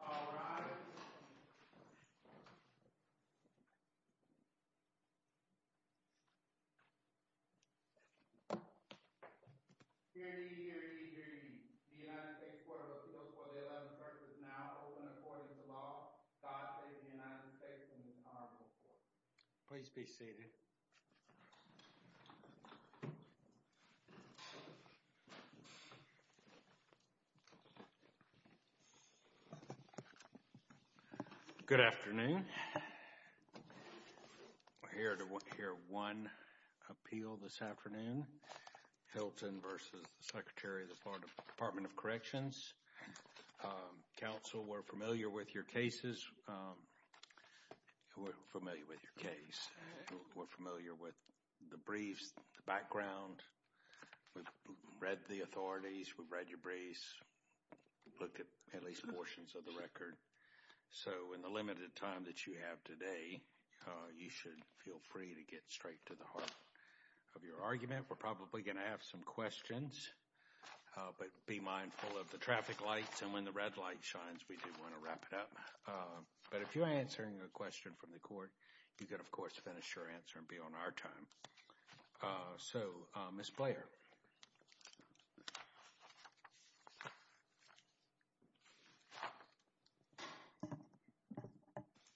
All rise. Hear ye, hear ye, hear ye. The United States Court of Appeals for the 11th verse is now open according to law. God save the United States and His Honorable Court. Please be seated. Good afternoon. We're here to hear one appeal this afternoon, Hilton v. Secretary of the Florida Department of Corrections. Counsel, we're familiar with your cases, we're familiar with the briefs, the background, we've read the authorities, we've read your briefs, looked at at least portions of the record, so in the limited time that you have today, you should feel free to get straight to the heart of your argument. We're probably going to have some questions, but be mindful of the traffic lights and when the red light shines, we do want to wrap it up. But if you're answering a question from the court, you can of course finish your answer and be on our time. So Ms. Blair.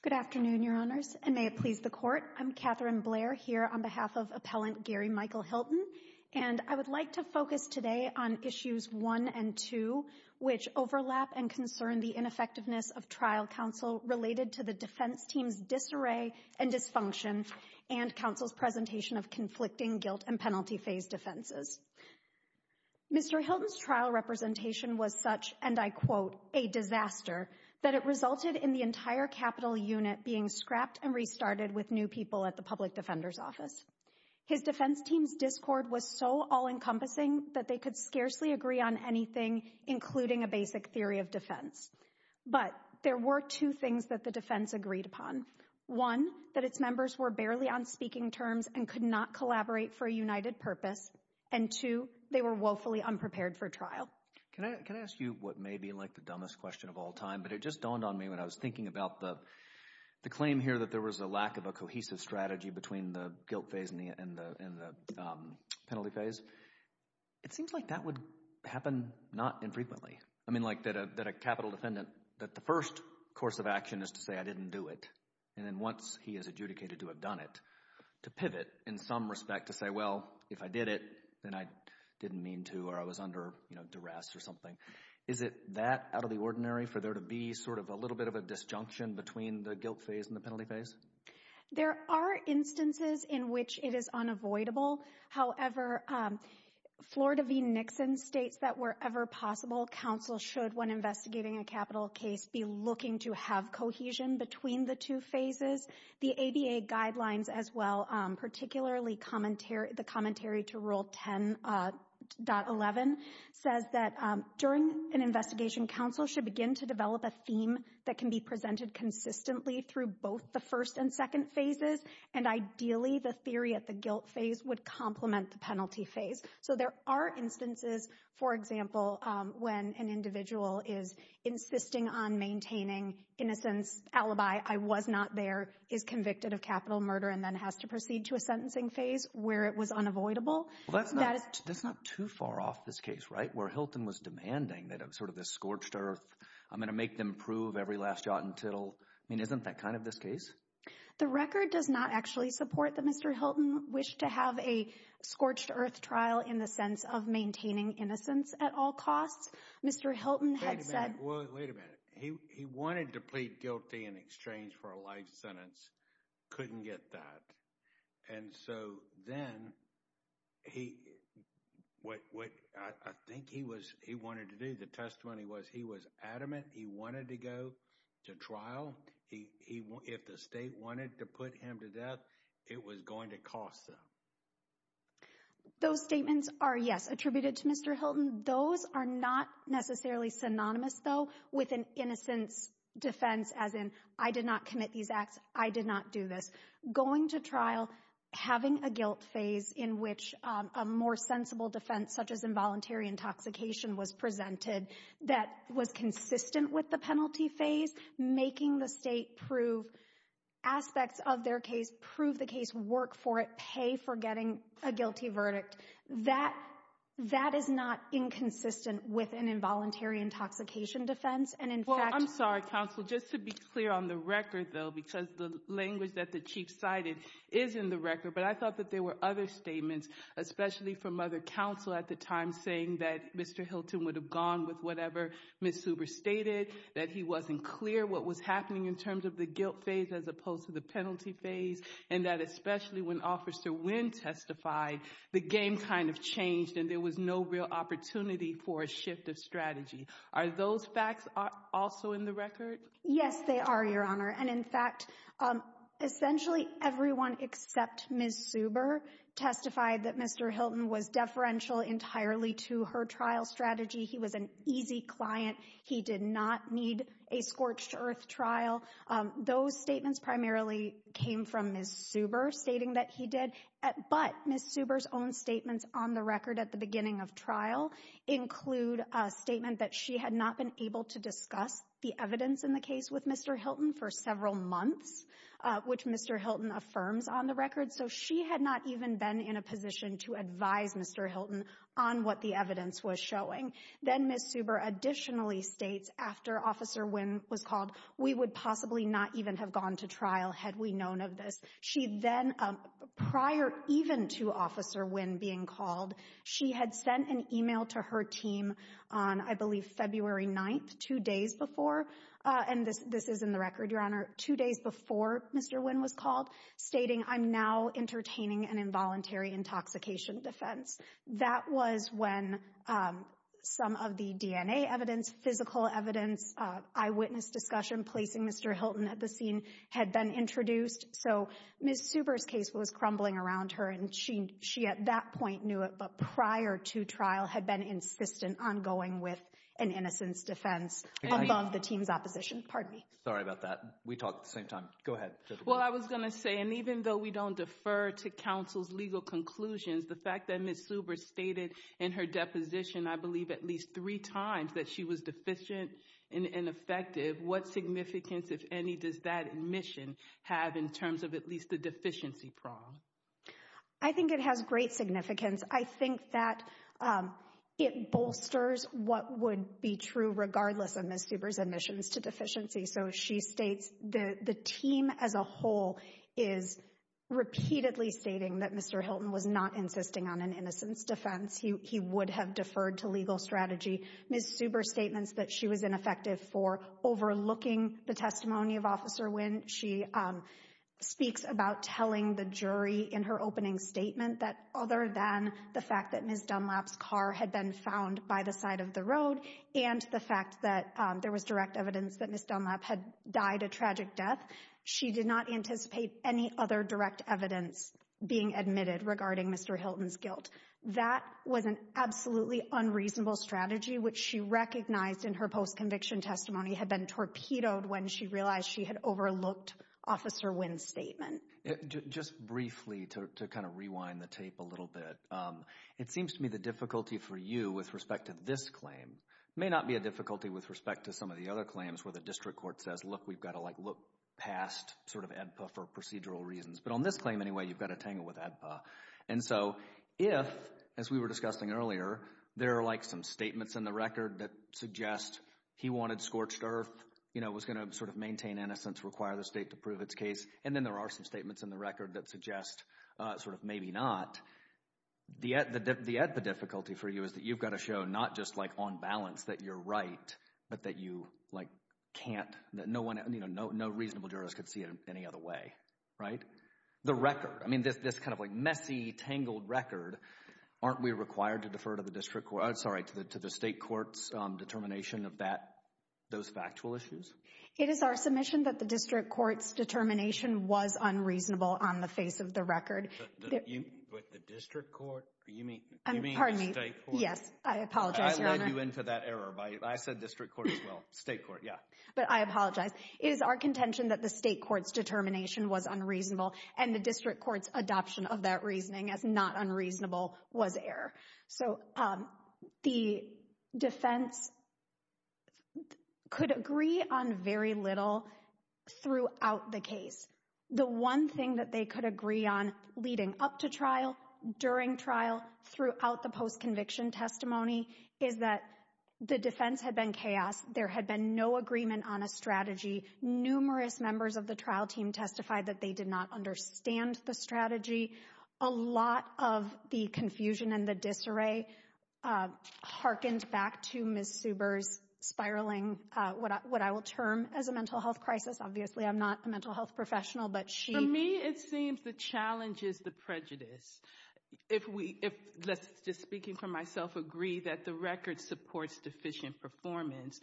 Good afternoon, Your Honors, and may it please the court. I'm Katherine Blair here on behalf of Appellant Gary Michael Hilton, and I would like to focus today on issues one and two, which overlap and concern the ineffectiveness of trial counsel related to the defense team's disarray and dysfunction and counsel's presentation of conflicting guilt and penalty phase defenses. Mr. Hilton's trial representation was such, and I quote, a disaster, that it resulted in the entire Capitol unit being scrapped and restarted with new people at the Public Defender's Office. His defense team's discord was so all-encompassing that they could scarcely agree on anything, including a basic theory of defense. But there were two things that the defense agreed upon, one, that its members were barely on speaking terms and could not collaborate for a united purpose, and two, they were woefully unprepared for trial. Can I ask you what may be like the dumbest question of all time, but it just dawned on me when I was thinking about the claim here that there was a lack of a cohesive strategy between the guilt phase and the penalty phase. It seems like that would happen not infrequently. I mean, like that a Capitol defendant, that the first course of action is to say, I didn't do it, and then once he is adjudicated to have done it, to pivot in some respect to say, well, if I did it, then I didn't mean to or I was under, you know, duress or something. Is it that out of the ordinary for there to be sort of a little bit of a disjunction between the guilt phase and the penalty phase? There are instances in which it is unavoidable. However, Florida v. Nixon states that wherever possible, counsel should, when investigating a Capitol case, be looking to have cohesion between the two phases. The ABA guidelines as well, particularly the commentary to Rule 10.11, says that during an investigation, counsel should begin to develop a theme that can be presented consistently through both the first and second phases, and ideally, the theory at the guilt phase would complement the penalty phase. So there are instances, for example, when an individual is insisting on maintaining innocence, alibi, I was not there, is convicted of capital murder, and then has to proceed to a sentencing phase where it was unavoidable. Well, that's not too far off this case, right? Where Hilton was demanding that sort of this scorched earth, I'm going to make them prove every last jot and tittle. I mean, isn't that kind of this case? The record does not actually support that Mr. Hilton wished to have a scorched earth trial in the sense of maintaining innocence at all costs. Mr. Hilton had said— Wait a minute. He wanted to plead guilty in exchange for a life sentence, couldn't get that. And so then, what I think he wanted to do, the testimony was, he was adamant he wanted to go to trial, if the state wanted to put him to death, it was going to cost them. Those statements are, yes, attributed to Mr. Hilton. Those are not necessarily synonymous, though, with an innocence defense as in, I did not commit these acts, I did not do this. Going to trial, having a guilt phase in which a more sensible defense such as involuntary intoxication was presented that was consistent with the penalty phase, making the state prove aspects of their case, prove the case, work for it, pay for getting a guilty verdict. That, that is not inconsistent with an involuntary intoxication defense. And in fact— Well, I'm sorry, counsel. Just to be clear on the record, though, because the language that the chief cited is in the record, but I thought that there were other statements, especially from other counsel at the time saying that Mr. Hilton would have gone with whatever Ms. Huber stated, that he wasn't clear what was happening in terms of the guilt phase as opposed to the penalty phase, and that especially when Officer Wynn testified, the game kind of changed and there was no real opportunity for a shift of strategy. Are those facts also in the record? Yes, they are, Your Honor. And in fact, essentially everyone except Ms. Huber testified that Mr. Hilton was deferential entirely to her trial strategy. He was an easy client. He did not need a scorched earth trial. Those statements primarily came from Ms. Huber stating that he did, but Ms. Huber's own statements on the record at the beginning of trial include a statement that she had not been able to discuss the evidence in the case with Mr. Hilton for several months, which Mr. Hilton affirms on the record. So she had not even been in a position to advise Mr. Hilton on what the evidence was showing. Then Ms. Huber additionally states after Officer Wynn was called, we would possibly not even have gone to trial had we known of this. She then, prior even to Officer Wynn being called, she had sent an email to her team on I believe February 9th, two days before, and this is in the record, Your Honor, two days before Mr. Wynn was called, stating, I'm now entertaining an involuntary intoxication defense. That was when some of the DNA evidence, physical evidence, eyewitness discussion placing Mr. Hilton at the scene had been introduced. So Ms. Huber's case was crumbling around her and she at that point knew it, but prior to trial had been insistent on going with an innocence defense above the team's opposition. Pardon me. Sorry about that. We talked at the same time. Go ahead. Well, I was going to say, and even though we don't defer to counsel's legal conclusions, the fact that Ms. Huber stated in her deposition, I believe at least three times that she was deficient and ineffective, what significance, if any, does that admission have in terms of at least the deficiency prong? I think it has great significance. I think that it bolsters what would be true regardless of Ms. Huber's admissions to deficiency. So she states the team as a whole is repeatedly stating that Mr. Hilton was not insisting on an innocence defense. He would have deferred to legal strategy. Ms. Huber's statements that she was ineffective for overlooking the testimony of Officer Wynn. She speaks about telling the jury in her opening statement that other than the fact that Ms. Dunlap's car had been found by the side of the road and the fact that there was direct evidence that Ms. Dunlap had died a tragic death, she did not anticipate any other direct evidence being admitted regarding Mr. Hilton's guilt. That was an absolutely unreasonable strategy, which she recognized in her post-conviction testimony had been torpedoed when she realized she had overlooked Officer Wynn's statement. Just briefly, to kind of rewind the tape a little bit, it seems to me the difficulty for you with respect to this claim may not be a difficulty with respect to some of the other claims where the district court says, look, we've got to like look past sort of AEDPA for procedural reasons. But on this claim anyway, you've got to tangle with AEDPA. And so if, as we were discussing earlier, there are like some statements in the record that suggest he wanted scorched earth, you know, was going to sort of maintain innocence, require the state to prove its case, and then there are some statements in the record that suggest sort of maybe not, the AEDPA difficulty for you is that you've got to show not just like on balance that you're right, but that you like can't, that no one, you know, no reasonable jurors could see it any other way, right? The record, I mean, this kind of like messy, tangled record, aren't we required to defer to the district court, I'm sorry, to the state court's determination of that, those factual issues? It is our submission that the district court's determination was unreasonable on the face of the record. Wait, the district court? You mean the state court? Pardon me, yes. I apologize, Your Honor. I led you into that error by, I said district court as well, state court, yeah. But I apologize. It is our contention that the state court's determination was unreasonable and the district court's adoption of that reasoning as not unreasonable was error. So the defense could agree on very little throughout the case. The one thing that they could agree on leading up to trial, during trial, throughout the post-conviction testimony, is that the defense had been chaos, there had been no agreement on a strategy, numerous members of the trial team testified that they did not understand the strategy, a lot of the confusion and the disarray hearkened back to Ms. Subers' spiraling, what I will term as a mental health crisis, obviously I'm not a mental health professional, but she- It seems the challenge is the prejudice. If we, let's just speaking for myself, agree that the record supports deficient performance.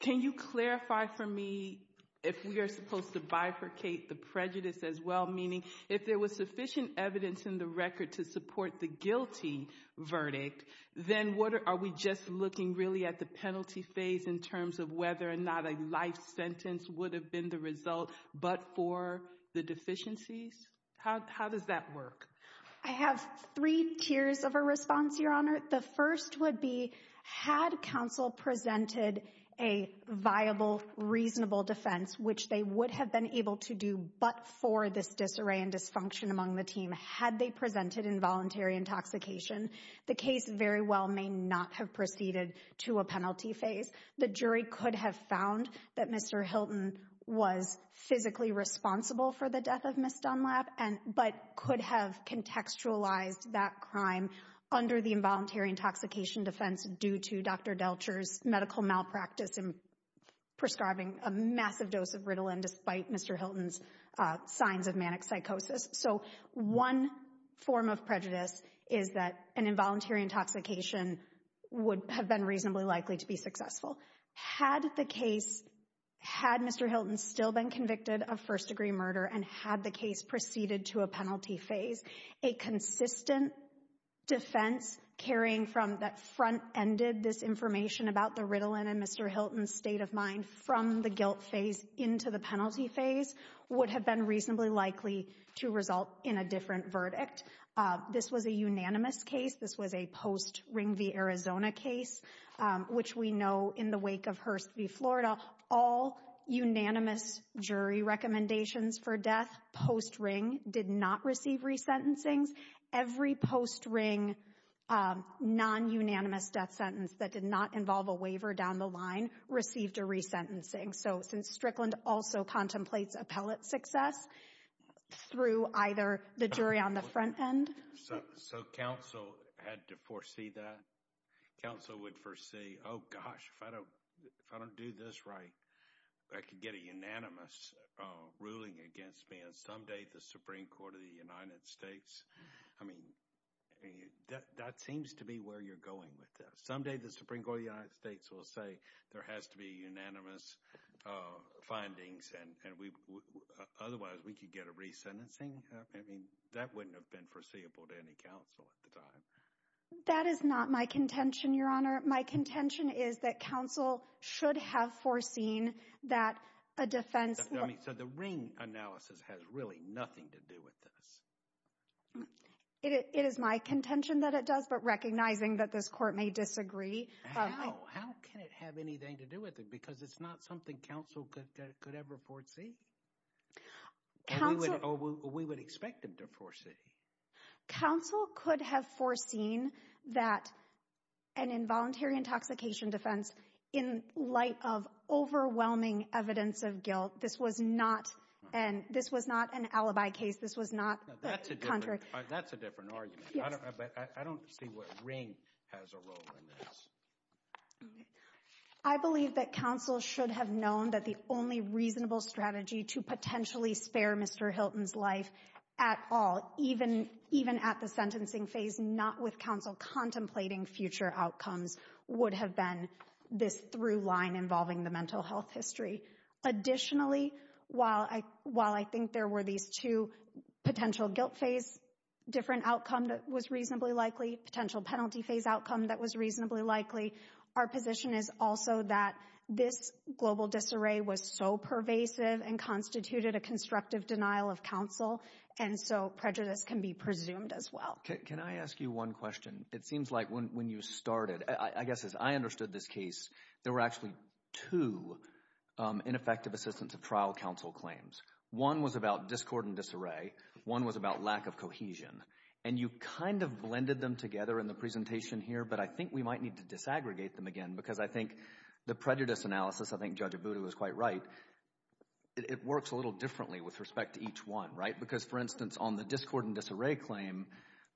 Can you clarify for me if we are supposed to bifurcate the prejudice as well, meaning if there was sufficient evidence in the record to support the guilty verdict, then are we just looking really at the penalty phase in terms of whether or not a life sentence would have been the result but for the deficiencies? How does that work? I have three tiers of a response, Your Honor. The first would be, had counsel presented a viable, reasonable defense, which they would have been able to do but for this disarray and dysfunction among the team, had they presented involuntary intoxication, the case very well may not have proceeded to a penalty phase. The jury could have found that Mr. Hilton was physically responsible for the death of Ms. Dunlap, but could have contextualized that crime under the involuntary intoxication defense due to Dr. Delcher's medical malpractice in prescribing a massive dose of Ritalin despite Mr. Hilton's signs of manic psychosis. So one form of prejudice is that an involuntary intoxication would have been reasonably likely to be successful. Had the case, had Mr. Hilton still been convicted of first-degree murder and had the case proceeded to a penalty phase, a consistent defense carrying from that front-ended this information about the Ritalin and Mr. Hilton's state of mind from the guilt phase into the penalty phase would have been reasonably likely to result in a different verdict. This was a unanimous case. This was a post-Ring v. Arizona case, which we know in the wake of Hurst v. Florida, all unanimous jury recommendations for death post-Ring did not receive resentencings. Every post-Ring non-unanimous death sentence that did not involve a waiver down the line received a resentencing. So since Strickland also contemplates appellate success through either the jury on the front end. So counsel had to foresee that? Counsel would foresee, oh gosh, if I don't do this right, I could get a unanimous ruling against me and someday the Supreme Court of the United States, I mean, that seems to be where you're going with this. Someday the Supreme Court of the United States will say there has to be unanimous findings and otherwise we could get a resentencing. I mean, that wouldn't have been foreseeable to any counsel at the time. That is not my contention, Your Honor. My contention is that counsel should have foreseen that a defense. So the Ring analysis has really nothing to do with this. It is my contention that it does, but recognizing that this court may disagree. How? How can it have anything to do with it? Because it's not something counsel could ever foresee. Counsel. Or we would expect them to foresee. Counsel could have foreseen that an involuntary intoxication defense in light of overwhelming evidence of guilt, this was not an alibi case. This was not the contrary. That's a different argument. I don't see what Ring has a role in this. I believe that counsel should have known that the only reasonable strategy to potentially spare Mr. Hilton's life at all, even at the sentencing phase, not with counsel contemplating future outcomes, would have been this through line involving the mental health history. Additionally, while I think there were these two potential guilt phase different outcome that was reasonably likely, potential penalty phase outcome that was reasonably likely, our position is also that this global disarray was so pervasive and constituted a constructive denial of counsel, and so prejudice can be presumed as well. Can I ask you one question? It seems like when you started, I guess as I understood this case, there were actually two ineffective assistance of trial counsel claims. One was about discord and disarray. One was about lack of cohesion. And you kind of blended them together in the presentation here, but I think we might need to disaggregate them again, because I think the prejudice analysis, I think Judge Abudu is quite right, it works a little differently with respect to each one, right? Because for instance, on the discord and disarray claim,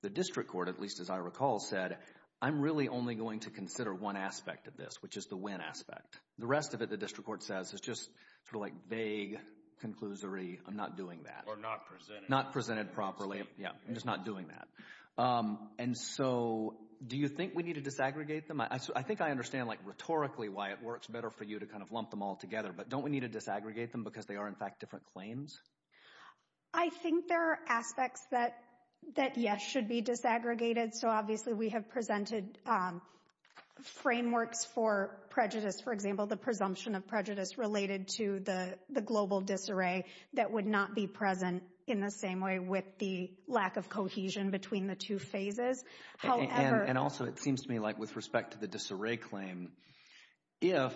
the district court, at least as I recall, said, I'm really only going to consider one aspect of this, which is the win aspect. The rest of it, the district court says, is just sort of like vague, conclusory, I'm not doing that. Or not presented. Not presented properly. Yeah. I'm just not doing that. And so, do you think we need to disaggregate them? I think I understand rhetorically why it works better for you to kind of lump them all together, but don't we need to disaggregate them because they are, in fact, different claims? I think there are aspects that, yes, should be disaggregated. So obviously we have presented frameworks for prejudice, for example, the presumption of prejudice related to the global disarray that would not be present in the same way with the lack of cohesion between the two phases. However... And also, it seems to me like with respect to the disarray claim, if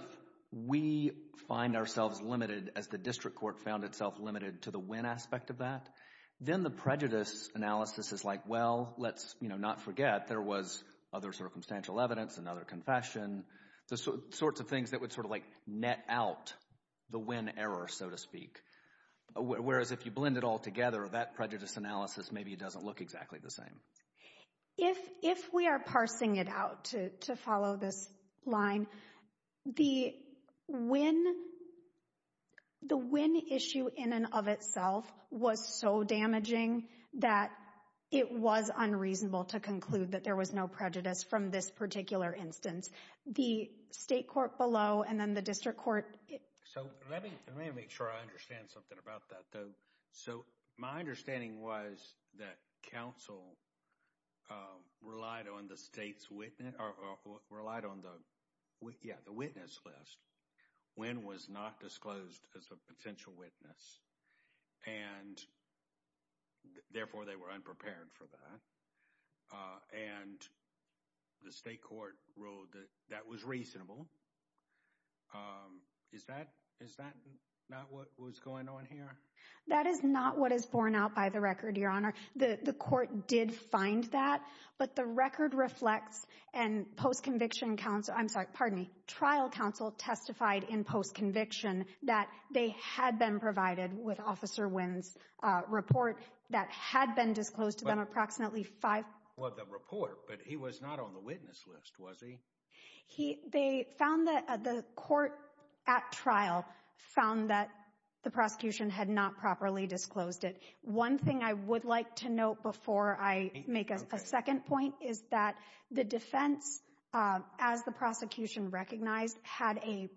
we find ourselves limited as the district court found itself limited to the win aspect of that, then the prejudice analysis is like, well, let's not forget there was other circumstantial evidence, another confession, the sorts of things that would sort of like net out the win error, so to speak. Whereas if you blend it all together, that prejudice analysis, maybe it doesn't look exactly the same. If we are parsing it out to follow this line, the win issue in and of itself was so damaging that it was unreasonable to conclude that there was no prejudice from this particular instance. The state court below and then the district court... So let me make sure I understand something about that though. So my understanding was that counsel relied on the witness list when was not disclosed as a potential witness, and therefore they were unprepared for that. And the state court ruled that that was reasonable. Is that not what was going on here? That is not what is borne out by the record, Your Honor. The court did find that, but the record reflects and trial counsel testified in post-conviction that they had been provided with Officer Wynn's report that had been disclosed to them approximately five... Well, the report, but he was not on the witness list, was he? He... They found that the court at trial found that the prosecution had not properly disclosed it. One thing I would like to note before I make a second point is that the defense, as the prosecution recognized, had a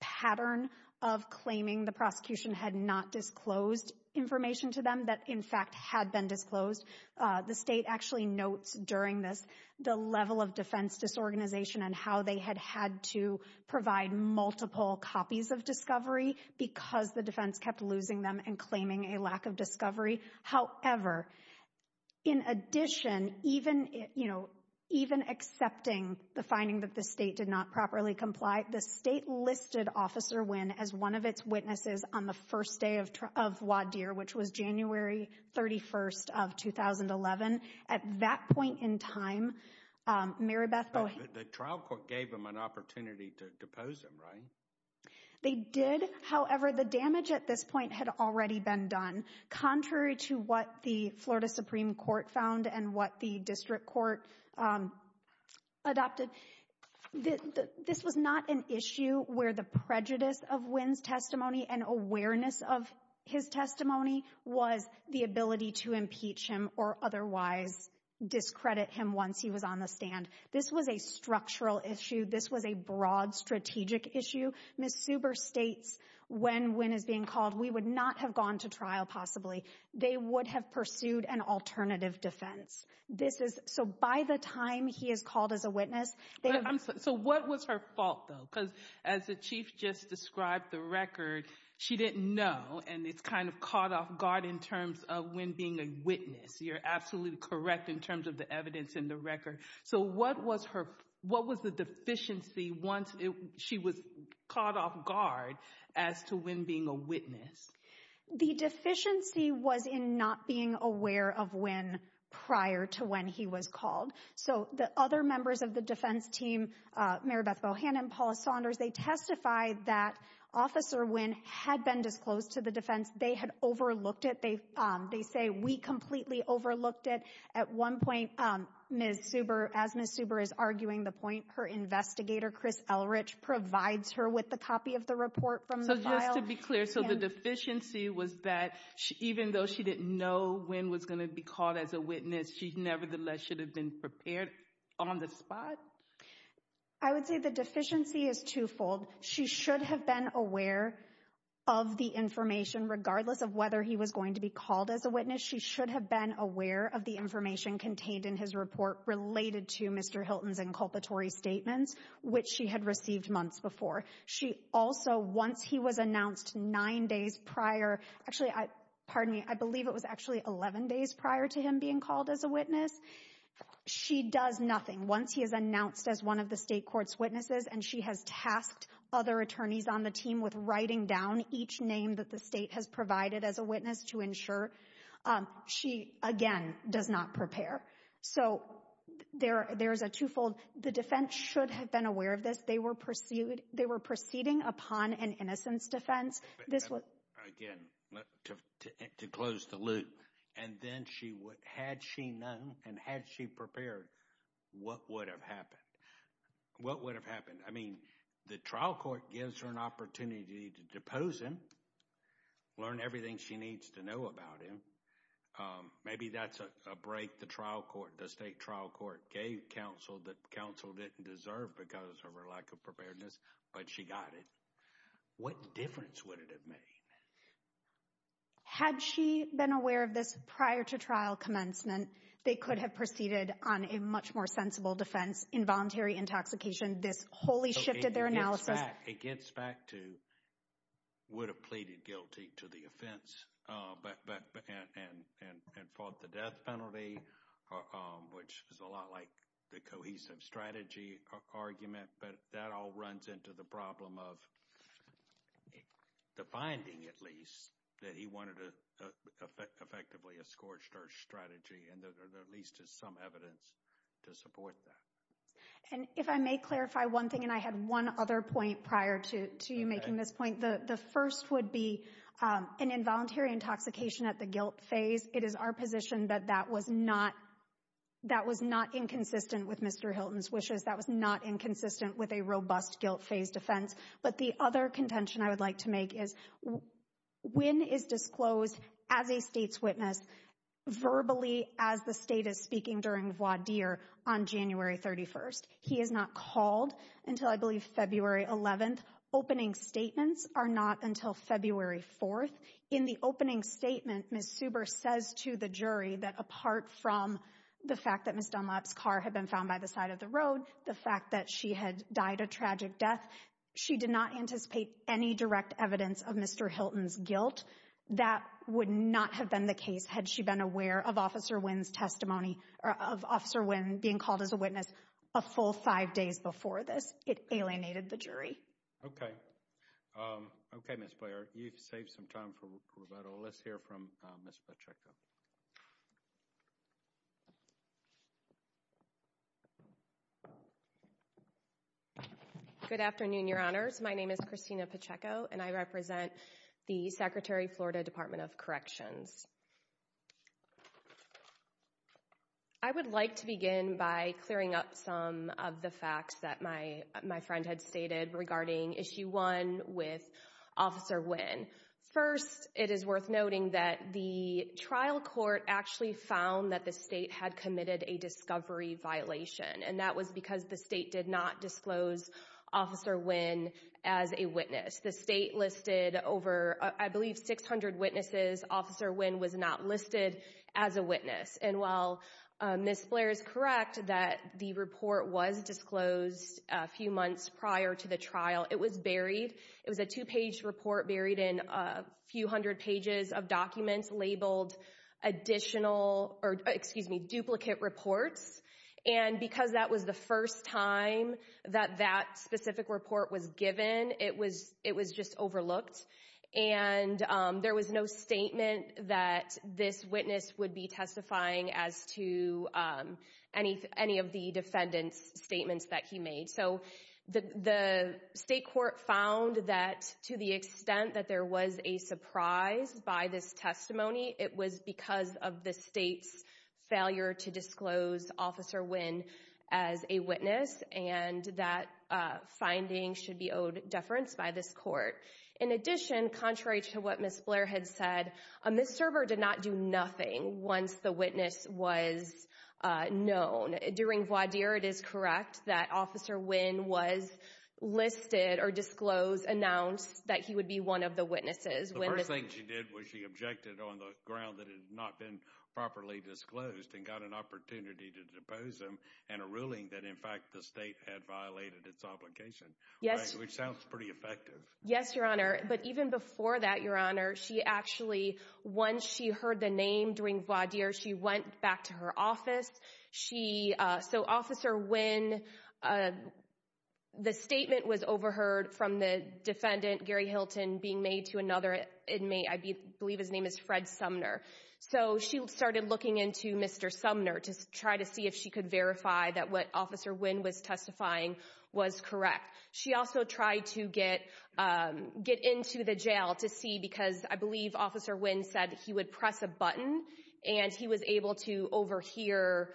pattern of claiming the prosecution had not disclosed information to them that in fact had been disclosed. The state actually notes during this the level of defense disorganization and how they had had to provide multiple copies of discovery because the defense kept losing them and claiming a lack of discovery. However, in addition, even accepting the finding that the state did not properly comply, the state listed Officer Wynn as one of its witnesses on the first day of WADIR, which was January 31st of 2011. At that point in time, Mary Beth Boe... The trial court gave them an opportunity to depose him, right? They did. However, the damage at this point had already been done. Contrary to what the Florida Supreme Court found and what the district court adopted, this was not an issue where the prejudice of Wynn's testimony and awareness of his testimony was the ability to impeach him or otherwise discredit him once he was on the stand. This was a structural issue. This was a broad strategic issue. Ms. Subar states when Wynn is being called, we would not have gone to trial possibly. They would have pursued an alternative defense. This is... So by the time he is called as a witness... So what was her fault though? Because as the Chief just described the record, she didn't know and it's kind of caught off guard in terms of Wynn being a witness. You're absolutely correct in terms of the evidence in the record. So what was the deficiency once she was caught off guard as to Wynn being a witness? The deficiency was in not being aware of Wynn prior to when he was called. So the other members of the defense team, Mary Beth Bohannon, Paul Saunders, they testified that Officer Wynn had been disclosed to the defense. They had overlooked it. They say, we completely overlooked it. At one point, Ms. Subar, as Ms. Subar is arguing the point, her investigator, Chris Elrich, provides her with the copy of the report from the file. So just to be clear, so the deficiency was that even though she didn't know Wynn was going to be called as a witness, she nevertheless should have been prepared on the spot? I would say the deficiency is twofold. She should have been aware of the information regardless of whether he was going to be called as a witness. She should have been aware of the information contained in his report related to Mr. Hilton's inculpatory statements, which she had received months before. She also, once he was announced nine days prior, actually, pardon me, I believe it was actually 11 days prior to him being called as a witness, she does nothing. Once he is announced as one of the state court's witnesses and she has tasked other attorneys on the team with writing down each name that the state has provided as a witness to ensure, she again does not prepare. So there is a twofold. The defense should have been aware of this. They were proceeding upon an innocence defense. Again, to close the loop, and then had she known and had she prepared, what would have happened? What would have happened? I mean, the trial court gives her an opportunity to depose him, learn everything she needs to know about him. Maybe that's a break the trial court, the state trial court gave counsel that counsel didn't deserve because of her lack of preparedness, but she got it. What difference would it have made? Had she been aware of this prior to trial commencement, they could have proceeded on a much more sensible defense, involuntary intoxication, this wholly shifted their analysis. It gets back to would have pleaded guilty to the offense and fought the death penalty, which is a lot like the cohesive strategy argument, but that all runs into the problem of the finding, at least, that he wanted to effectively a scorched earth strategy and that there at least is some evidence to support that. And if I may clarify one thing, and I had one other point prior to you making this point, the first would be an involuntary intoxication at the guilt phase. It is our position that that was not inconsistent with Mr. Hilton's wishes. That was not inconsistent with a robust guilt phase defense. But the other contention I would like to make is when is disclosed as a state's witness verbally as the state is speaking during voir dire on January 31st, he is not called until I believe February 11th. Opening statements are not until February 4th. In the opening statement, Ms. Suber says to the jury that apart from the fact that Ms. Dunlap's car had been found by the side of the road, the fact that she had died a tragic death, she did not anticipate any direct evidence of Mr. Hilton's guilt. That would not have been the case had she been aware of Officer Wynn's testimony, of Officer Wynn being called as a witness a full five days before this. It alienated the jury. Okay. Okay, Ms. Blair, you've saved some time for rubato. So let's hear from Ms. Pacheco. Good afternoon, Your Honors. My name is Christina Pacheco, and I represent the Secretary of Florida Department of Corrections. I would like to begin by clearing up some of the facts that my friend had stated regarding Issue 1 with Officer Wynn. First, it is worth noting that the trial court actually found that the state had committed a discovery violation, and that was because the state did not disclose Officer Wynn as a witness. The state listed over, I believe, 600 witnesses. Officer Wynn was not listed as a witness. And while Ms. Blair is correct that the report was disclosed a few months prior to the trial, it was buried. It was a two-page report buried in a few hundred pages of documents labeled duplicate reports. And because that was the first time that that specific report was given, it was just overlooked. And there was no statement that this witness would be testifying as to any of the defendant's statements that he made. So the state court found that to the extent that there was a surprise by this testimony, it was because of the state's failure to disclose Officer Wynn as a witness, and that finding should be owed deference by this court. In addition, contrary to what Ms. Blair had said, a misserver did not do nothing once the witness was known. During voir dire, it is correct that Officer Wynn was listed or disclosed, announced that he would be one of the witnesses. The first thing she did was she objected on the ground that it had not been properly disclosed and got an opportunity to depose him and a ruling that in fact the state had violated its obligation. Yes. Which sounds pretty effective. Yes, Your Honor. But even before that, Your Honor, she actually, once she heard the name during voir dire, she went back to her office. She, so Officer Wynn, the statement was overheard from the defendant, Gary Hilton, being made to another inmate, I believe his name is Fred Sumner. So she started looking into Mr. Sumner to try to see if she could verify that what Officer Wynn was testifying was correct. She also tried to get into the jail to see, because I believe Officer Wynn said he would press a button and he was able to overhear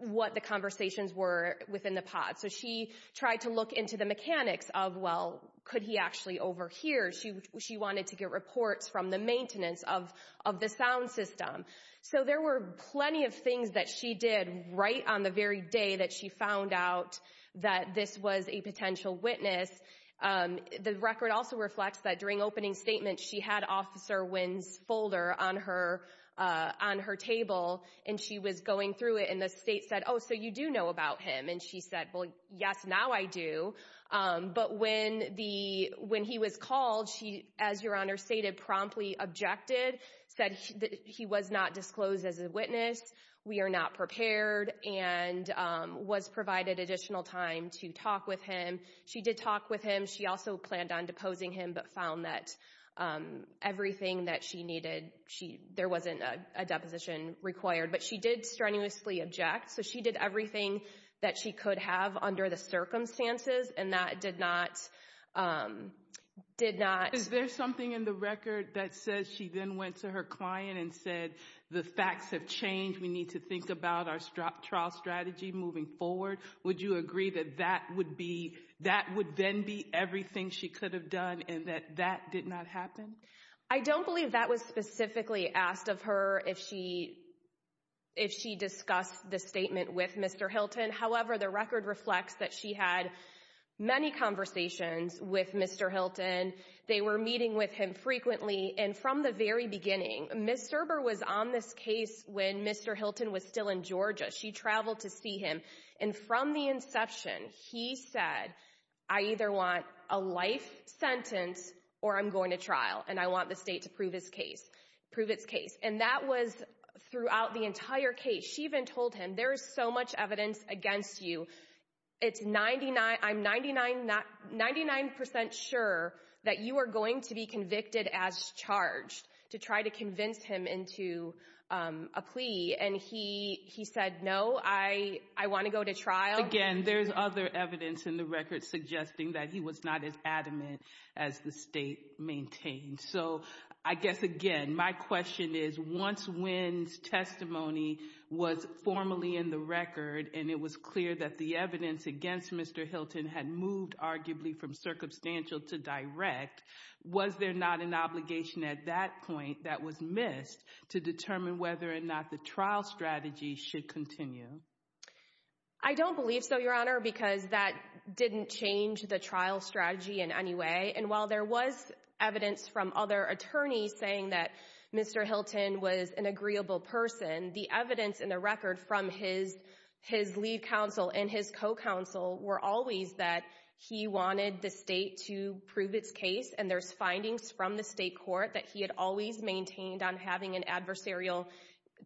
what the conversations were within the pod. So she tried to look into the mechanics of, well, could he actually overhear? She wanted to get reports from the maintenance of the sound system. So there were plenty of things that she did right on the very day that she found out that this was a potential witness. The record also reflects that during opening statements, she had Officer Wynn's folder on her table, and she was going through it, and the state said, oh, so you do know about him? And she said, well, yes, now I do. But when he was called, she, as Your Honor stated, promptly objected, said that he was not disclosed as a witness, we are not prepared, and was provided additional time to talk with him. She did talk with him. She also planned on deposing him, but found that everything that she needed, there wasn't a deposition required. But she did strenuously object. So she did everything that she could have under the circumstances, and that did not, did not... Is there something in the record that says she then went to her client and said, the facts have changed, we need to think about our trial strategy moving forward? Would you agree that that would be, that would then be everything she could have done, and that that did not happen? I don't believe that was specifically asked of her, if she, if she discussed the statement with Mr. Hilton. However, the record reflects that she had many conversations with Mr. Hilton. They were meeting with him frequently, and from the very beginning, Ms. Serber was on this case when Mr. Hilton was still in Georgia. She traveled to see him, and from the inception, he said, I either want a life sentence, or I'm going to trial, and I want the state to prove his case, prove its case. And that was throughout the entire case. She even told him, there is so much evidence against you, it's 99, I'm 99, 99% sure that you are going to be convicted as charged, to try to convince him into a plea. And he, he said, no, I, I want to go to trial. Again, there's other evidence in the record suggesting that he was not as adamant as the state maintained. So I guess, again, my question is, once Wynn's testimony was formally in the record, and it was clear that the evidence against Mr. Hilton had moved, arguably, from circumstantial to direct, was there not an obligation at that point that was missed to determine whether or not the trial strategy should continue? I don't believe so, Your Honor, because that didn't change the trial strategy in any way. And while there was evidence from other attorneys saying that Mr. Hilton was an agreeable person, the evidence in the record from his, his lead counsel and his co-counsel were always that he wanted the state to prove its case. And there's findings from the state court that he had always maintained on having an adversarial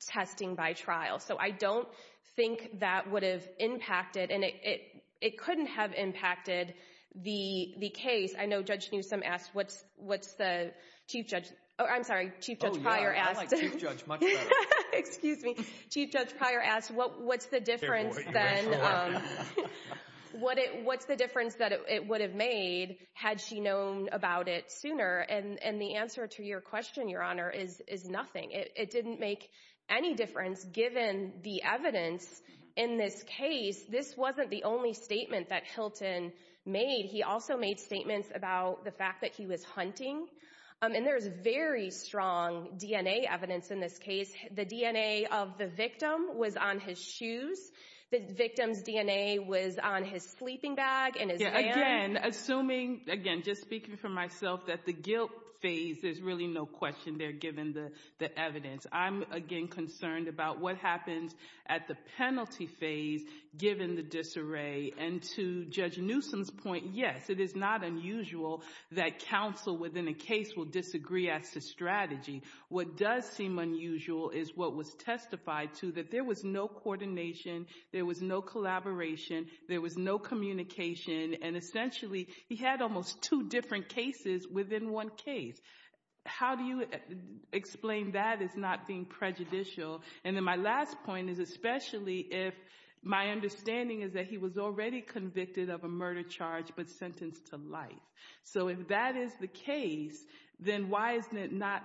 testing by trial. So I don't think that would have impacted, and it, it, it couldn't have impacted the, the case. I know Judge Newsom asked, what's, what's the Chief Judge, oh, I'm sorry, Chief Judge Pryor asked. Oh, yeah, I like Chief Judge much better. Excuse me. Chief Judge Pryor asked, what, what's the difference then, what it, what's the difference that it would have made had she known about it sooner? And, and the answer to your question, Your Honor, is, is nothing. It didn't make any difference given the evidence in this case. This wasn't the only statement that Hilton made. He also made statements about the fact that he was hunting. And there's very strong DNA evidence in this case. The DNA of the victim was on his shoes. The victim's DNA was on his sleeping bag and his hand. Again, assuming, again, just speaking for myself, that the guilt phase, there's really no question there given the, the evidence. I'm, again, concerned about what happens at the penalty phase given the disarray. And to Judge Newsom's point, yes, it is not unusual that counsel within a case will disagree as to strategy. What does seem unusual is what was testified to, that there was no coordination, there was no collaboration, there was no communication, and essentially, he had almost two different cases within one case. How do you explain that as not being prejudicial? And then my last point is especially if my understanding is that he was already convicted of a murder charge but sentenced to life. So if that is the case, then why is it not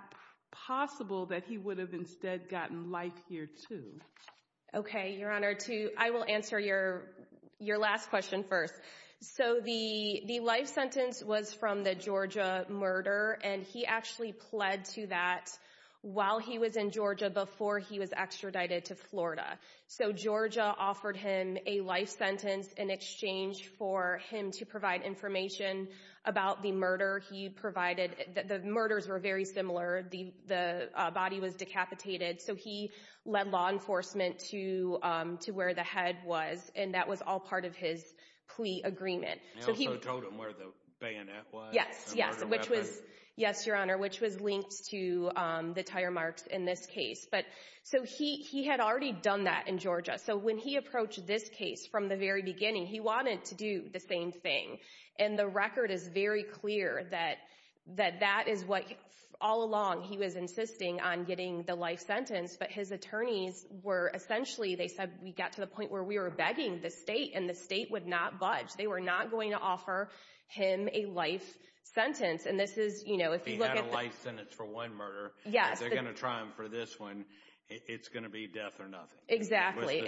possible that he would have instead gotten life here too? Okay, Your Honor, to, I will answer your, your last question first. So the, the life sentence was from the Georgia murder and he actually pled to that while he was in Georgia before he was extradited to Florida. So Georgia offered him a life sentence in exchange for him to provide information about the murder he provided. The murders were very similar. The body was decapitated. So he led law enforcement to, to where the head was and that was all part of his plea agreement. So he also told him where the bayonet was? Yes, yes, which was, yes, Your Honor, which was linked to the tire marks in this case. But so he, he had already done that in Georgia. So when he approached this case from the very beginning, he wanted to do the same thing. And the record is very clear that, that that is what all along he was insisting on getting the life sentence. But his attorneys were essentially, they said, we got to the point where we were begging the state and the state would not budge. They were not going to offer him a life sentence. And this is, you know, if you look at a life sentence for one murder, they're going to try him for this one. It's going to be death or nothing. Exactly.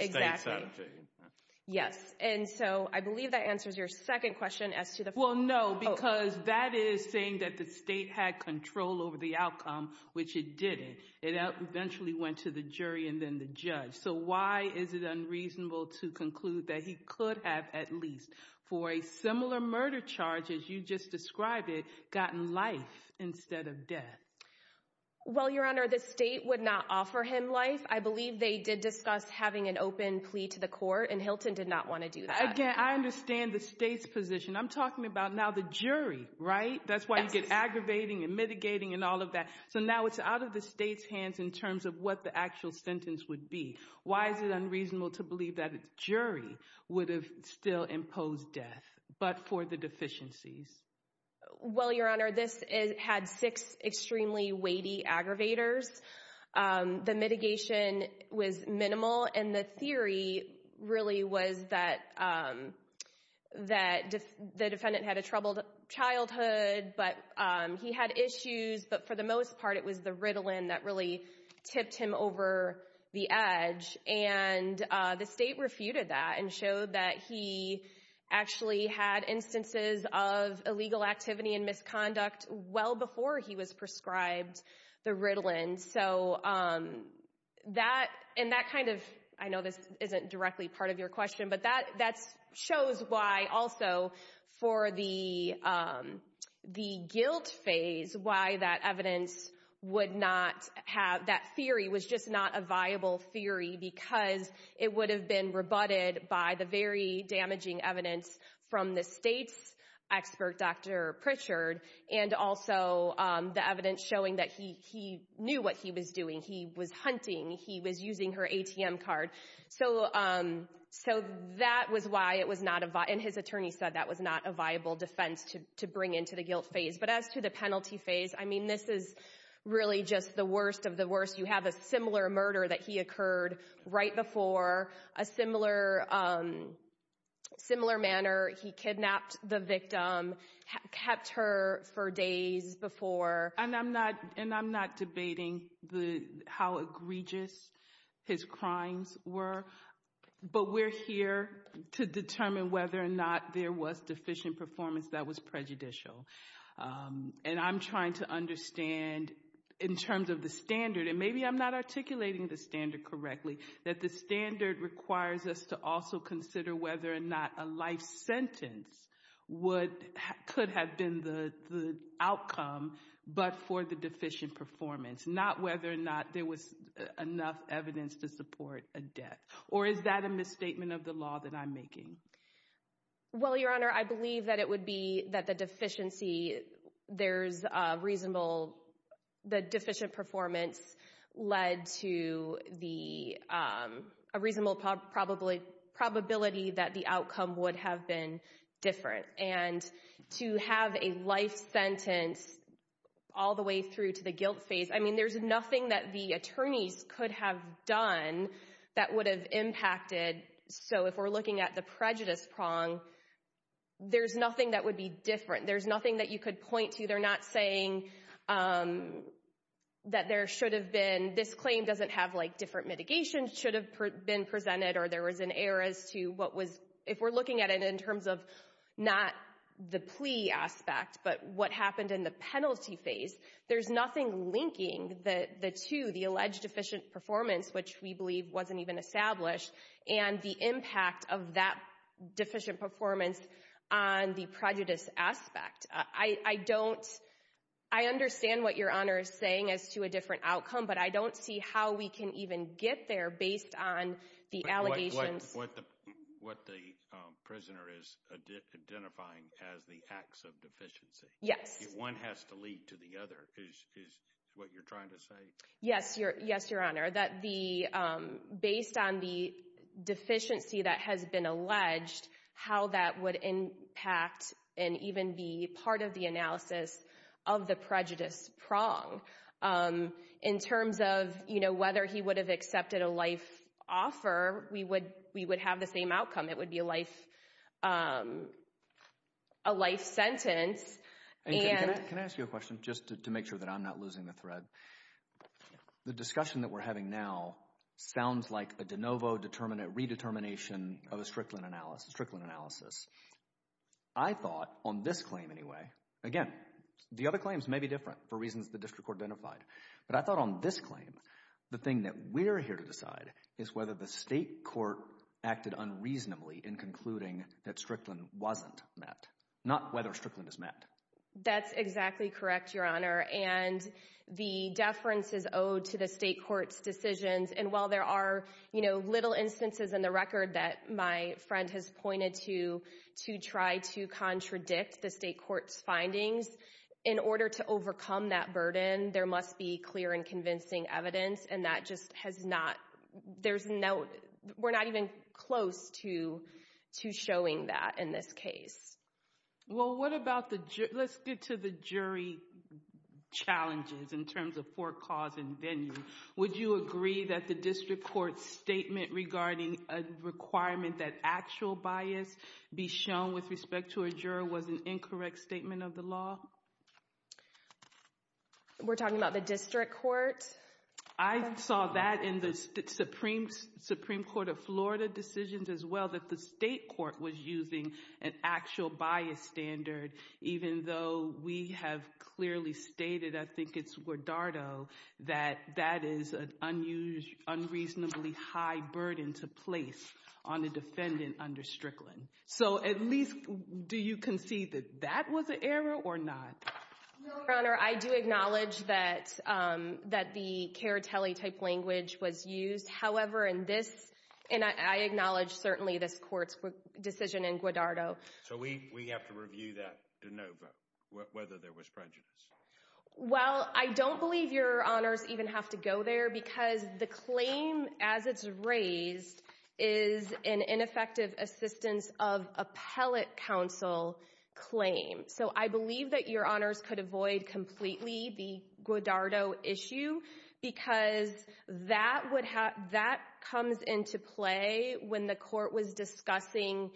Yes. And so I believe that answers your second question as to the, well, no, because that is saying that the state had control over the outcome, which it didn't. It eventually went to the jury and then the judge. So why is it unreasonable to conclude that he could have, at least for a similar murder charge, as you just described it, gotten life instead of death? Well, Your Honor, the state would not offer him life. I believe they did discuss having an open plea to the court and Hilton did not want to do that. Again, I understand the state's position. I'm talking about now the jury, right? That's why you get aggravating and mitigating and all of that. So now it's out of the state's hands in terms of what the actual sentence would be. Why is it unreasonable to believe that a jury would have still imposed death, but for the deficiencies? Well, Your Honor, this had six extremely weighty aggravators. The mitigation was minimal and the theory really was that the defendant had a troubled childhood, but he had issues. But for the most part, it was the Ritalin that really tipped him over the edge. And the state refuted that and showed that he actually had instances of illegal activity and misconduct well before he was prescribed the Ritalin. So that, and that kind of, I know this isn't directly part of your question, but that shows why also for the guilt phase, why that evidence would not have, that theory was just not a viable theory because it would have been rebutted by the very damaging evidence from the state's expert, Dr. Pritchard, and also the evidence showing that he knew what he was doing. He was hunting. He was using her ATM card. So that was why it was not, and his attorney said that was not a viable defense to bring into the guilt phase. But as to the penalty phase, I mean, this is really just the worst of the worst. You have a similar murder that he occurred right before, a similar manner. He kidnapped the victim, kept her for days before. And I'm not, and I'm not debating how egregious his crimes were, but we're here to determine whether or not there was deficient performance that was prejudicial. And I'm trying to understand in terms of the standard, and maybe I'm not articulating the standard correctly, that the standard requires us to also consider whether or not a life sentence would, could have been the outcome, but for the deficient performance, not whether or not there was enough evidence to support a death. Or is that a misstatement of the law that I'm making? Well, Your Honor, I believe that it would be that the deficiency, there's a reasonable, the deficient performance led to the, a reasonable probability that the outcome would have been different. And to have a life sentence all the way through to the guilt phase, I mean, there's nothing that the attorneys could have done that would have impacted. So if we're looking at the prejudice prong, there's nothing that would be different. There's nothing that you could point to. They're not saying that there should have been, this claim doesn't have like different mitigations should have been presented, or there was an error as to what was, if we're looking at it in terms of not the plea aspect, but what happened in the penalty phase, there's nothing linking the, the two, the alleged deficient performance, which we believe wasn't even established, and the impact of that deficient performance on the prejudice aspect. I don't, I understand what Your Honor is saying as to a different outcome, but I don't see how we can even get there based on the allegations. What, what the, what the prisoner is identifying as the acts of deficiency. Yes. If one has to lead to the other, is, is what you're trying to say? Yes, Your, yes, Your Honor. That the, based on the deficiency that has been alleged, how that would impact and even be part of the analysis of the prejudice prong. In terms of, you know, whether he would have accepted a life offer, we would, we would have the same outcome. It would be a life, a life sentence, and. Can I, can I ask you a question, just to, to make sure that I'm not losing the thread? The discussion that we're having now sounds like a de novo determinate, redetermination of a Strickland analysis, Strickland analysis. I thought on this claim anyway, again, the other claims may be different for reasons the district court identified, but I thought on this claim, the thing that we're here to decide is whether the state court acted unreasonably in concluding that Strickland wasn't met. Not whether Strickland is met. That's exactly correct, Your Honor, and the deference is owed to the state court's decisions. And while there are, you know, little instances in the record that my friend has pointed to, to try to contradict the state court's findings, in order to overcome that burden, there must be clear and convincing evidence, and that just has not, there's no, we're not even close to, to showing that in this case. Well, what about the, let's get to the jury challenges in terms of forecausing venue. Would you agree that the district court's statement regarding a requirement that actual bias be shown with respect to a juror was an incorrect statement of the law? We're talking about the district court? I saw that in the Supreme Court of Florida decisions as well, that the state court was using an actual bias standard, even though we have clearly stated, I think it's Guardado, that that is an unusually, unreasonably high burden to place on a defendant under Strickland. So, at least, do you concede that that was an error or not? No, Your Honor, I do acknowledge that the Caritelli-type language was used. However, in this, and I acknowledge certainly this court's decision in Guardado. So, we have to review that de novo, whether there was prejudice. Well, I don't believe Your Honors even have to go there because the claim as it's raised is an ineffective assistance of appellate counsel claim. So, I believe that Your Honors could avoid completely the Guardado issue because that comes into play when the court was discussing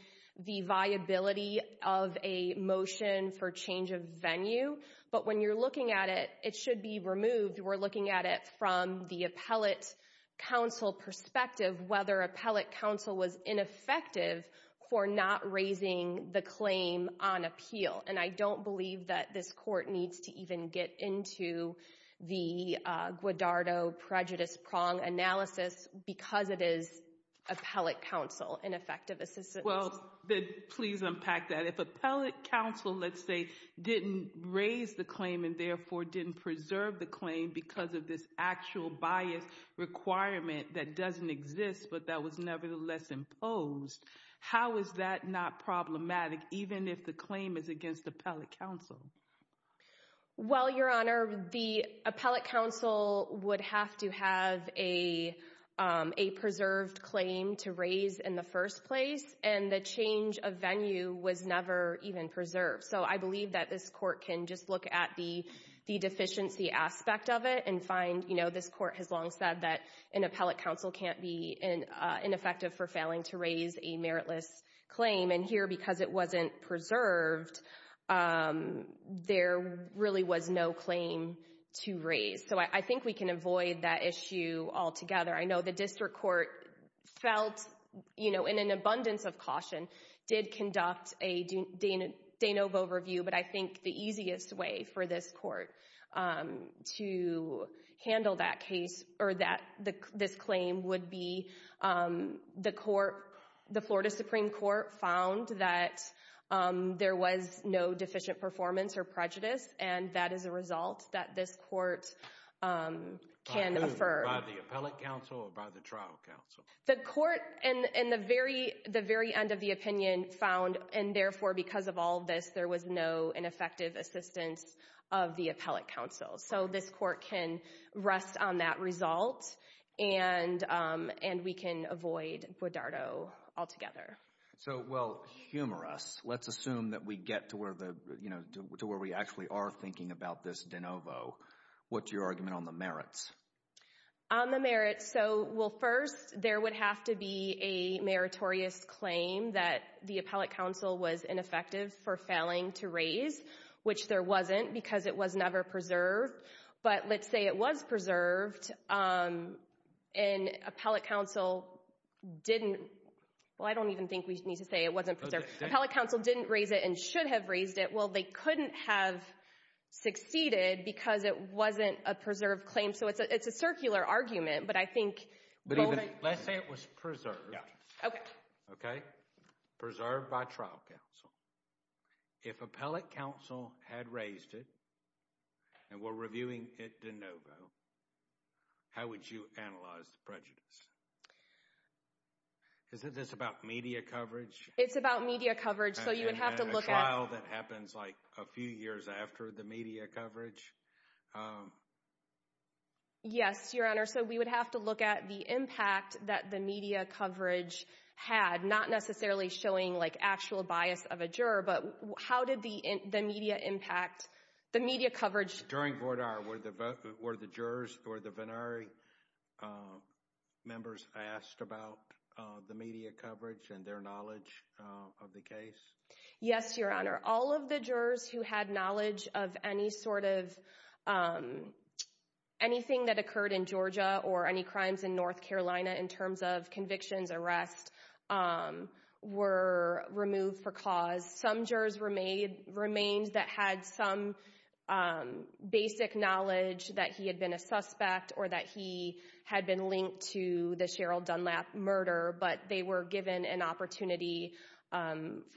the viability of a motion for change of venue. But when you're looking at it, it should be removed. We're looking at it from the appellate counsel perspective, whether appellate counsel was ineffective for not raising the claim on appeal. And I don't believe that this court needs to even get into the Guardado prejudice prong analysis because it is appellate counsel, ineffective assistance. Well, please unpack that. If appellate counsel, let's say, didn't raise the claim and therefore didn't preserve the claim because of this actual bias requirement that doesn't exist, but that was nevertheless imposed, how is that not problematic, even if the claim is against appellate counsel? Well, Your Honor, the appellate counsel would have to have a preserved claim to raise in the first place, and the change of venue was never even preserved. So, I believe that this court can just look at the deficiency aspect of it and find, you know, this court has long said that an appellate counsel can't be ineffective for failing to raise a meritless claim. And here, because it wasn't preserved, there really was no claim to raise. So, I think we can avoid that issue altogether. I know the district court felt, you know, in an abundance of caution, did conduct a de novo review. But I think the easiest way for this court to handle that case or that this claim would be the court, the Florida Supreme Court found that there was no deficient performance or prejudice, and that is a result that this court can affirm. By the appellate counsel or by the trial counsel? The court in the very end of the opinion found, and therefore, because of all this, there was no ineffective assistance of the appellate counsel. So, this court can rest on that result, and we can avoid bodardo altogether. So, well, humorous. Let's assume that we get to where the, you know, to where we actually are thinking about this de novo. What's your argument on the merits? On the merits. So, well, first, there would have to be a meritorious claim that the appellate counsel was ineffective for failing to raise, which there wasn't because it was never preserved. But let's say it was preserved and appellate counsel didn't, well, I don't even think we need to say it wasn't preserved. Appellate counsel didn't raise it and should have raised it. Well, they couldn't have succeeded because it wasn't a preserved claim. So, it's a circular argument, but I think. But even, let's say it was preserved. Yeah. Okay. Okay. Preserved by trial counsel. If appellate counsel had raised it, and we're reviewing it de novo, how would you analyze the prejudice? Isn't this about media coverage? It's about media coverage. So, you would have to look at. That happens like a few years after the media coverage. Yes, Your Honor. So, we would have to look at the impact that the media coverage had. Not necessarily showing like actual bias of a juror, but how did the media impact, the media coverage. During Vordar, were the jurors or the Venari members asked about the media coverage and their knowledge of the case? Yes, Your Honor. All of the jurors who had knowledge of any sort of, anything that occurred in Georgia or any crimes in North Carolina in terms of convictions, arrests, were removed for cause. Some jurors remained that had some basic knowledge that he had been a suspect or that he had been linked to the Cheryl Dunlap murder, but they were given an opportunity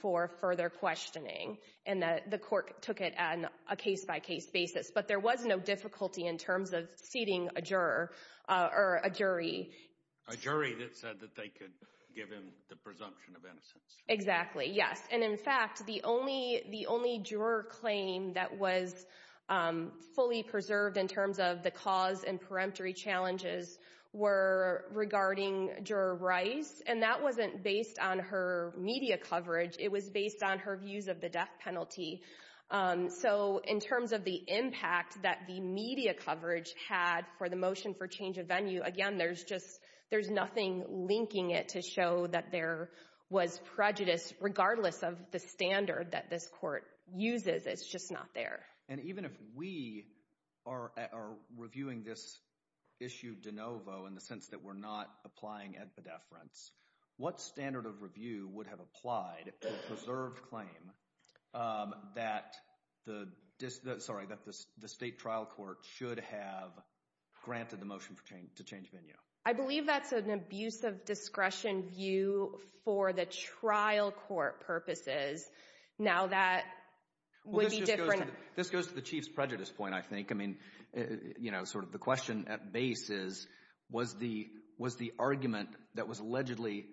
for further questioning. And the court took it on a case-by-case basis. But there was no difficulty in terms of seating a juror or a jury. A jury that said that they could give him the presumption of innocence. Exactly, yes. And in fact, the only juror claim that was fully preserved in terms of the cause and peremptory challenges were regarding Juror Rice. And that wasn't based on her media coverage. It was based on her views of the death penalty. So in terms of the impact that the media coverage had for the motion for change of venue, again, there's just, there's nothing linking it to show that there was prejudice, regardless of the standard that this court uses. It's just not there. And even if we are reviewing this issue de novo, in the sense that we're not applying at pedeference, what standard of review would have applied to a preserved claim that the state trial court should have granted the motion to change venue? I believe that's an abuse of discretion view for the trial court purposes. Now that would be different. This goes to the Chief's prejudice point, I think. I mean, you know, sort of the question at base is, was the argument that was allegedly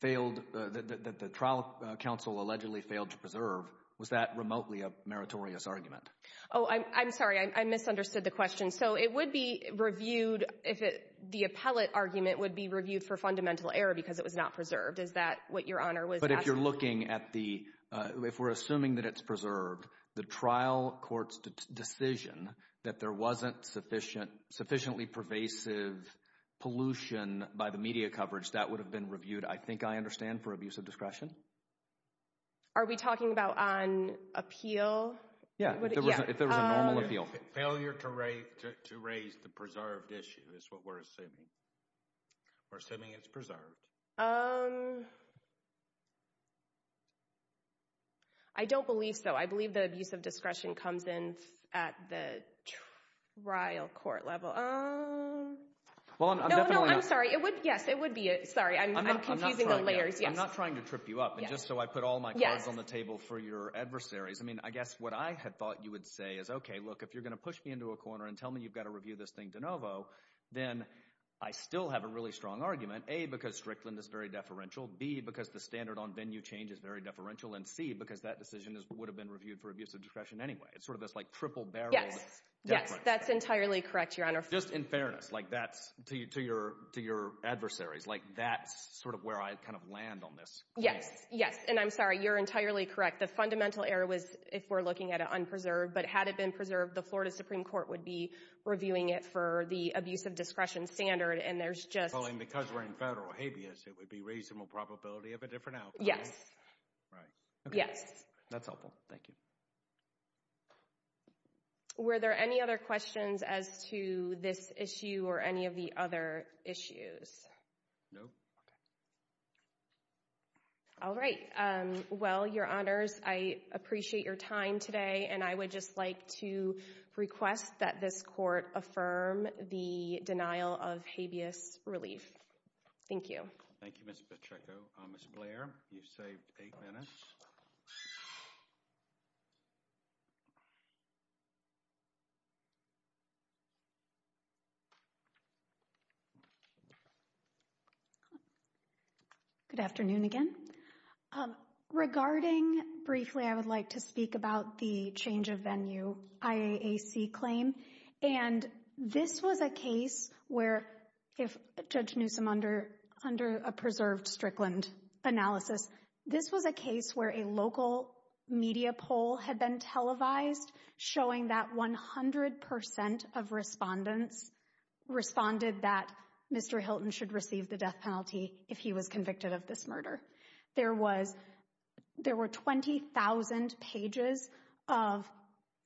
failed, that the trial counsel allegedly failed to preserve, was that remotely a meritorious argument? Oh, I'm sorry. I misunderstood the question. So it would be reviewed if the appellate argument would be reviewed for fundamental error because it was not preserved. Is that what Your Honor was asking? If you're looking at the, if we're assuming that it's preserved, the trial court's decision that there wasn't sufficiently pervasive pollution by the media coverage, that would have been reviewed, I think I understand, for abuse of discretion? Are we talking about on appeal? Yeah, if there was a normal appeal. Failure to raise the preserved issue is what we're assuming. We're assuming it's preserved. I don't believe so. I believe that abuse of discretion comes in at the trial court level. No, no, I'm sorry. It would, yes, it would be. Sorry, I'm confusing the layers. I'm not trying to trip you up. And just so I put all my cards on the table for your adversaries, I mean, I guess what I had thought you would say is, okay, look, if you're going to push me into a corner and tell me you've got to review this thing de novo, then I still have a really strong argument, A, because Strickland is very deferential, B, because the standard on venue change is very deferential, and C, because that decision would have been reviewed for abuse of discretion anyway. It's sort of this like triple-barreled difference. Yes, yes, that's entirely correct, Your Honor. Just in fairness, like that's, to your adversaries, like that's sort of where I kind of land on this. Yes, yes, and I'm sorry, you're entirely correct. The fundamental error was, if we're looking at it, unpreserved, but had it been preserved, the Florida Supreme Court would be reviewing it for the abuse of discretion standard, and there's just— Because we're in federal habeas, it would be reasonable probability of a different outcome. Right. Yes. That's helpful, thank you. Were there any other questions as to this issue or any of the other issues? No. All right. Well, Your Honors, I appreciate your time today, and I would just like to request that this Court affirm the denial of habeas relief. Thank you. Thank you, Ms. Pacheco. Ms. Blair, you've saved eight minutes. Good afternoon again. Regarding briefly, I would like to speak about the change of venue IAAC claim, and this was a case where, if Judge Newsom, under a preserved Strickland analysis, this was a case where a local media poll had been televised showing that 100 percent of respondents responded that Mr. Hilton should receive the death penalty if he was convicted of this murder. There were 20,000 pages of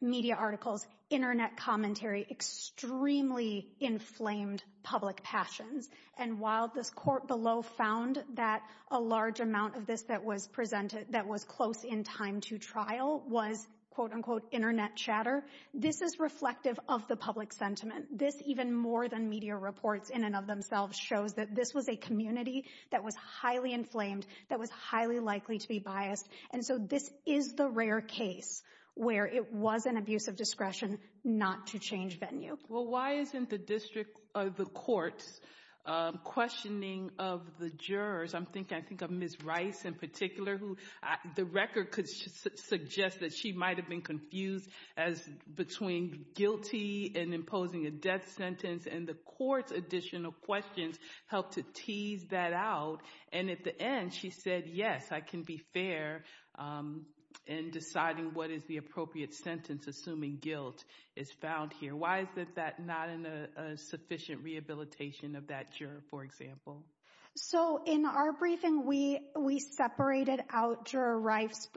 media articles, internet commentary, extremely inflamed public passions. And while this Court below found that a large amount of this that was presented that was close in time to trial was, quote, unquote, internet chatter, this is reflective of the public sentiment. This, even more than media reports in and of themselves, shows that this was a community that was highly inflamed, that was highly likely to be biased. And so this is the rare case where it was an abuse of discretion not to change venue. Well, why isn't the District of the Courts questioning of the jurors? I'm thinking, I think, of Ms. Rice in particular, who the record could suggest that she might have been confused as between guilty and imposing a death sentence. And the Court's additional questions helped to tease that out. And at the end, she said, yes, I can be fair in deciding what is the appropriate sentence, assuming guilt is found here. Why is that not in a sufficient rehabilitation of that juror, for example? So in our briefing, we separated out Juror Rice's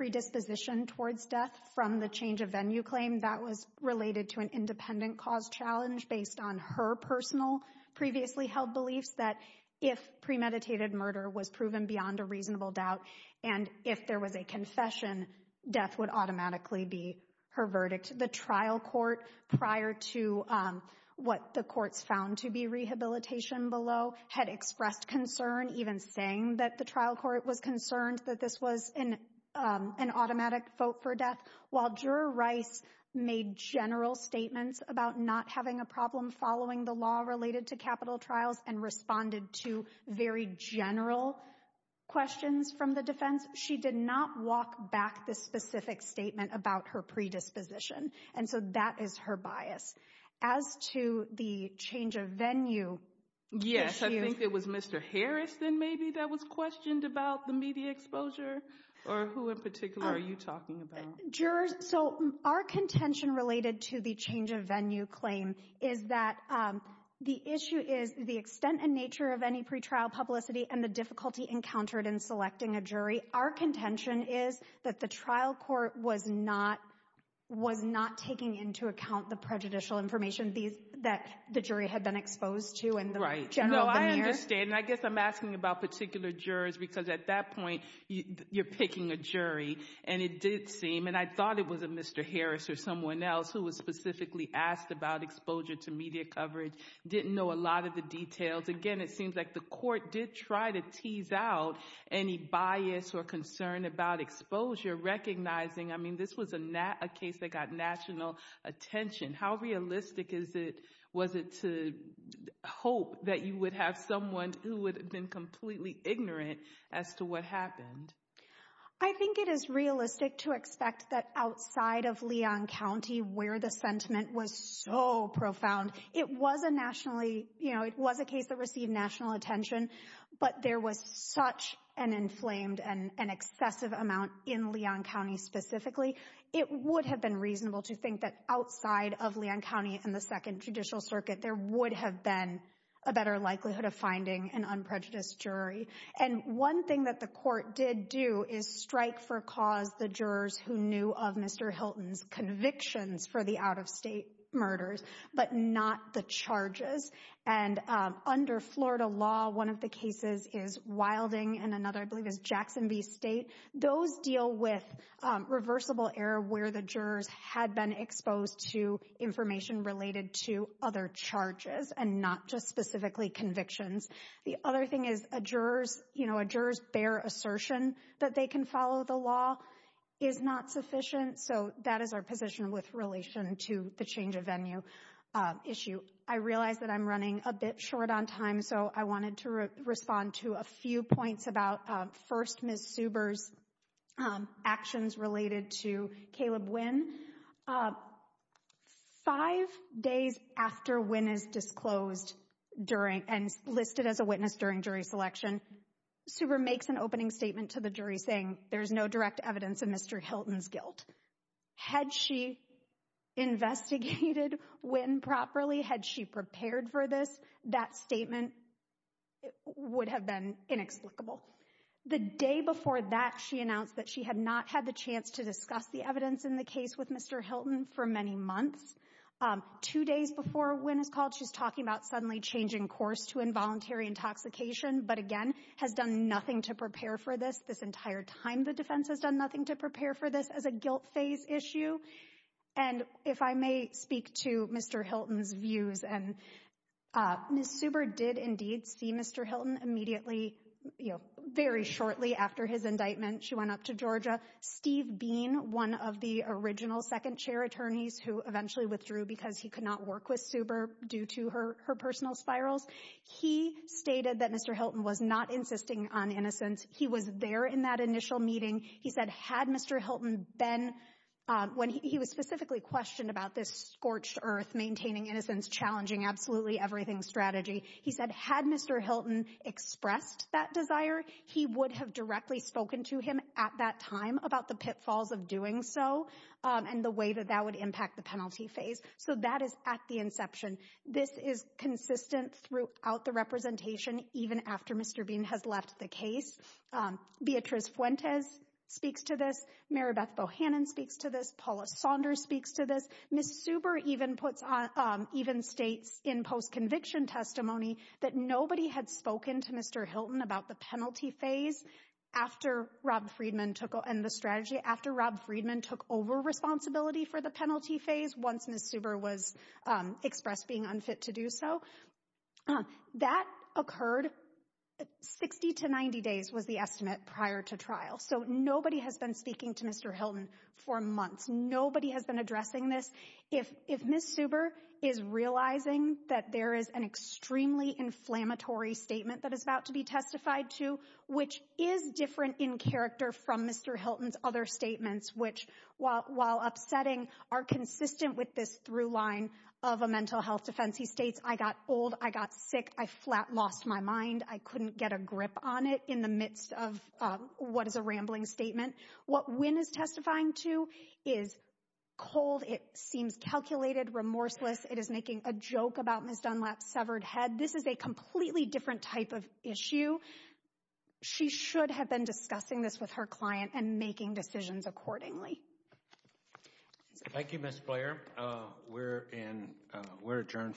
predisposition towards death from the change of venue claim. That was related to an independent cause challenge based on her personal previously held beliefs that if premeditated murder was proven beyond a reasonable doubt, and if there was a confession, death would automatically be her verdict. The trial court, prior to what the courts found to be rehabilitation below, had expressed concern, even saying that the trial court was concerned that this was an automatic vote for death. While Juror Rice made general statements about not having a problem following the law related to capital trials and responded to very general questions from the defense, she did not walk back the specific statement about her predisposition. And so that is her bias. As to the change of venue issue. Yes, I think it was Mr. Harrison maybe that was questioned about the media exposure, or who in particular are you talking about? Jurors, so our contention related to the change of venue claim is that the issue is the extent and nature of any pretrial publicity and the difficulty encountered in selecting a jury. Our contention is that the trial court was not taking into account the prejudicial information that the jury had been exposed to and the general veneer. I understand. I guess I'm asking about particular jurors because at that point, you're picking a jury and it did seem and I thought it was a Mr. Harris or someone else who was specifically asked about exposure to media coverage. Didn't know a lot of the details. Again, it seems like the court did try to tease out any bias or concern about exposure recognizing. I mean, this was a case that got national attention. How realistic is it? Was it to hope that you would have someone who would have been completely ignorant as to what happened? I think it is realistic to expect that outside of Leon County where the sentiment was so profound. It was a nationally, you know, it was a case that received national attention, but there was such an inflamed and an excessive amount in Leon County specifically. It would have been reasonable to think that outside of Leon County and the second judicial circuit, there would have been a better likelihood of finding an unprejudiced jury. And one thing that the court did do is strike for cause the jurors who knew of Mr. Hilton's convictions for the out-of-state murders, but not the charges. And under Florida law, one of the cases is Wilding and another I believe is Jackson V State. Those deal with reversible error where the jurors had been exposed to information related to other charges and not just specifically convictions. The other thing is a juror's, you know, a juror's bare assertion that they can follow the law is not sufficient. So that is our position with relation to the change of venue issue. I realize that I'm running a bit short on time, so I wanted to respond to a few points about first Ms. Suber's actions related to Caleb Wynn. Five days after Wynn is disclosed during and listed as a witness during jury selection, Suber makes an opening statement to the jury saying there's no direct evidence of Mr. Hilton's guilt. Had she investigated Wynn properly, had she prepared for this, that statement would have been inexplicable. The day before that, she announced that she had not had the chance to discuss the evidence in the case with Mr. Hilton for many months. Two days before Wynn is called, she's talking about suddenly changing course to involuntary intoxication, but again, has done nothing to prepare for this. This entire time, the defense has done nothing to prepare for this as a guilt phase issue. And if I may speak to Mr. Hilton's views, and Ms. Suber did indeed see Mr. Hilton immediately, you know, very shortly after his indictment, she went up to Georgia. Steve Bean, one of the original second chair attorneys who eventually withdrew because he could not work with Suber due to her personal spirals, he stated that Mr. Hilton was not insisting on innocence. He was there in that initial meeting. He said, had Mr. Hilton been when he was specifically questioned about this scorched earth, maintaining innocence, challenging absolutely everything strategy. He said, had Mr. Hilton expressed that desire, he would have directly spoken to him at that about the pitfalls of doing so and the way that that would impact the penalty phase. So that is at the inception. This is consistent throughout the representation, even after Mr. Bean has left the case. Beatriz Fuentes speaks to this. Maribeth Bohannon speaks to this. Paula Saunders speaks to this. Ms. Suber even states in post-conviction testimony that nobody had spoken to Mr. Hilton about the penalty phase after Rob Friedman took and the strategy after Rob Friedman took over responsibility for the penalty phase. Once Ms. Suber was expressed being unfit to do so, that occurred 60 to 90 days was the estimate prior to trial. So nobody has been speaking to Mr. Hilton for months. Nobody has been addressing this. If if Ms. Suber is realizing that there is an extremely inflammatory statement that is about to be testified to, which is different in character from Mr. Hilton's other statements, which, while upsetting, are consistent with this through line of a mental health defense. He states, I got old. I got sick. I flat lost my mind. I couldn't get a grip on it in the midst of what is a rambling statement. What Wynn is testifying to is cold. It seems calculated, remorseless. It is making a joke about Ms. Dunlap's severed head. This is a completely different type of issue. She should have been discussing this with her client and making decisions accordingly. Thank you, Ms. Blair. We're adjourned for the day.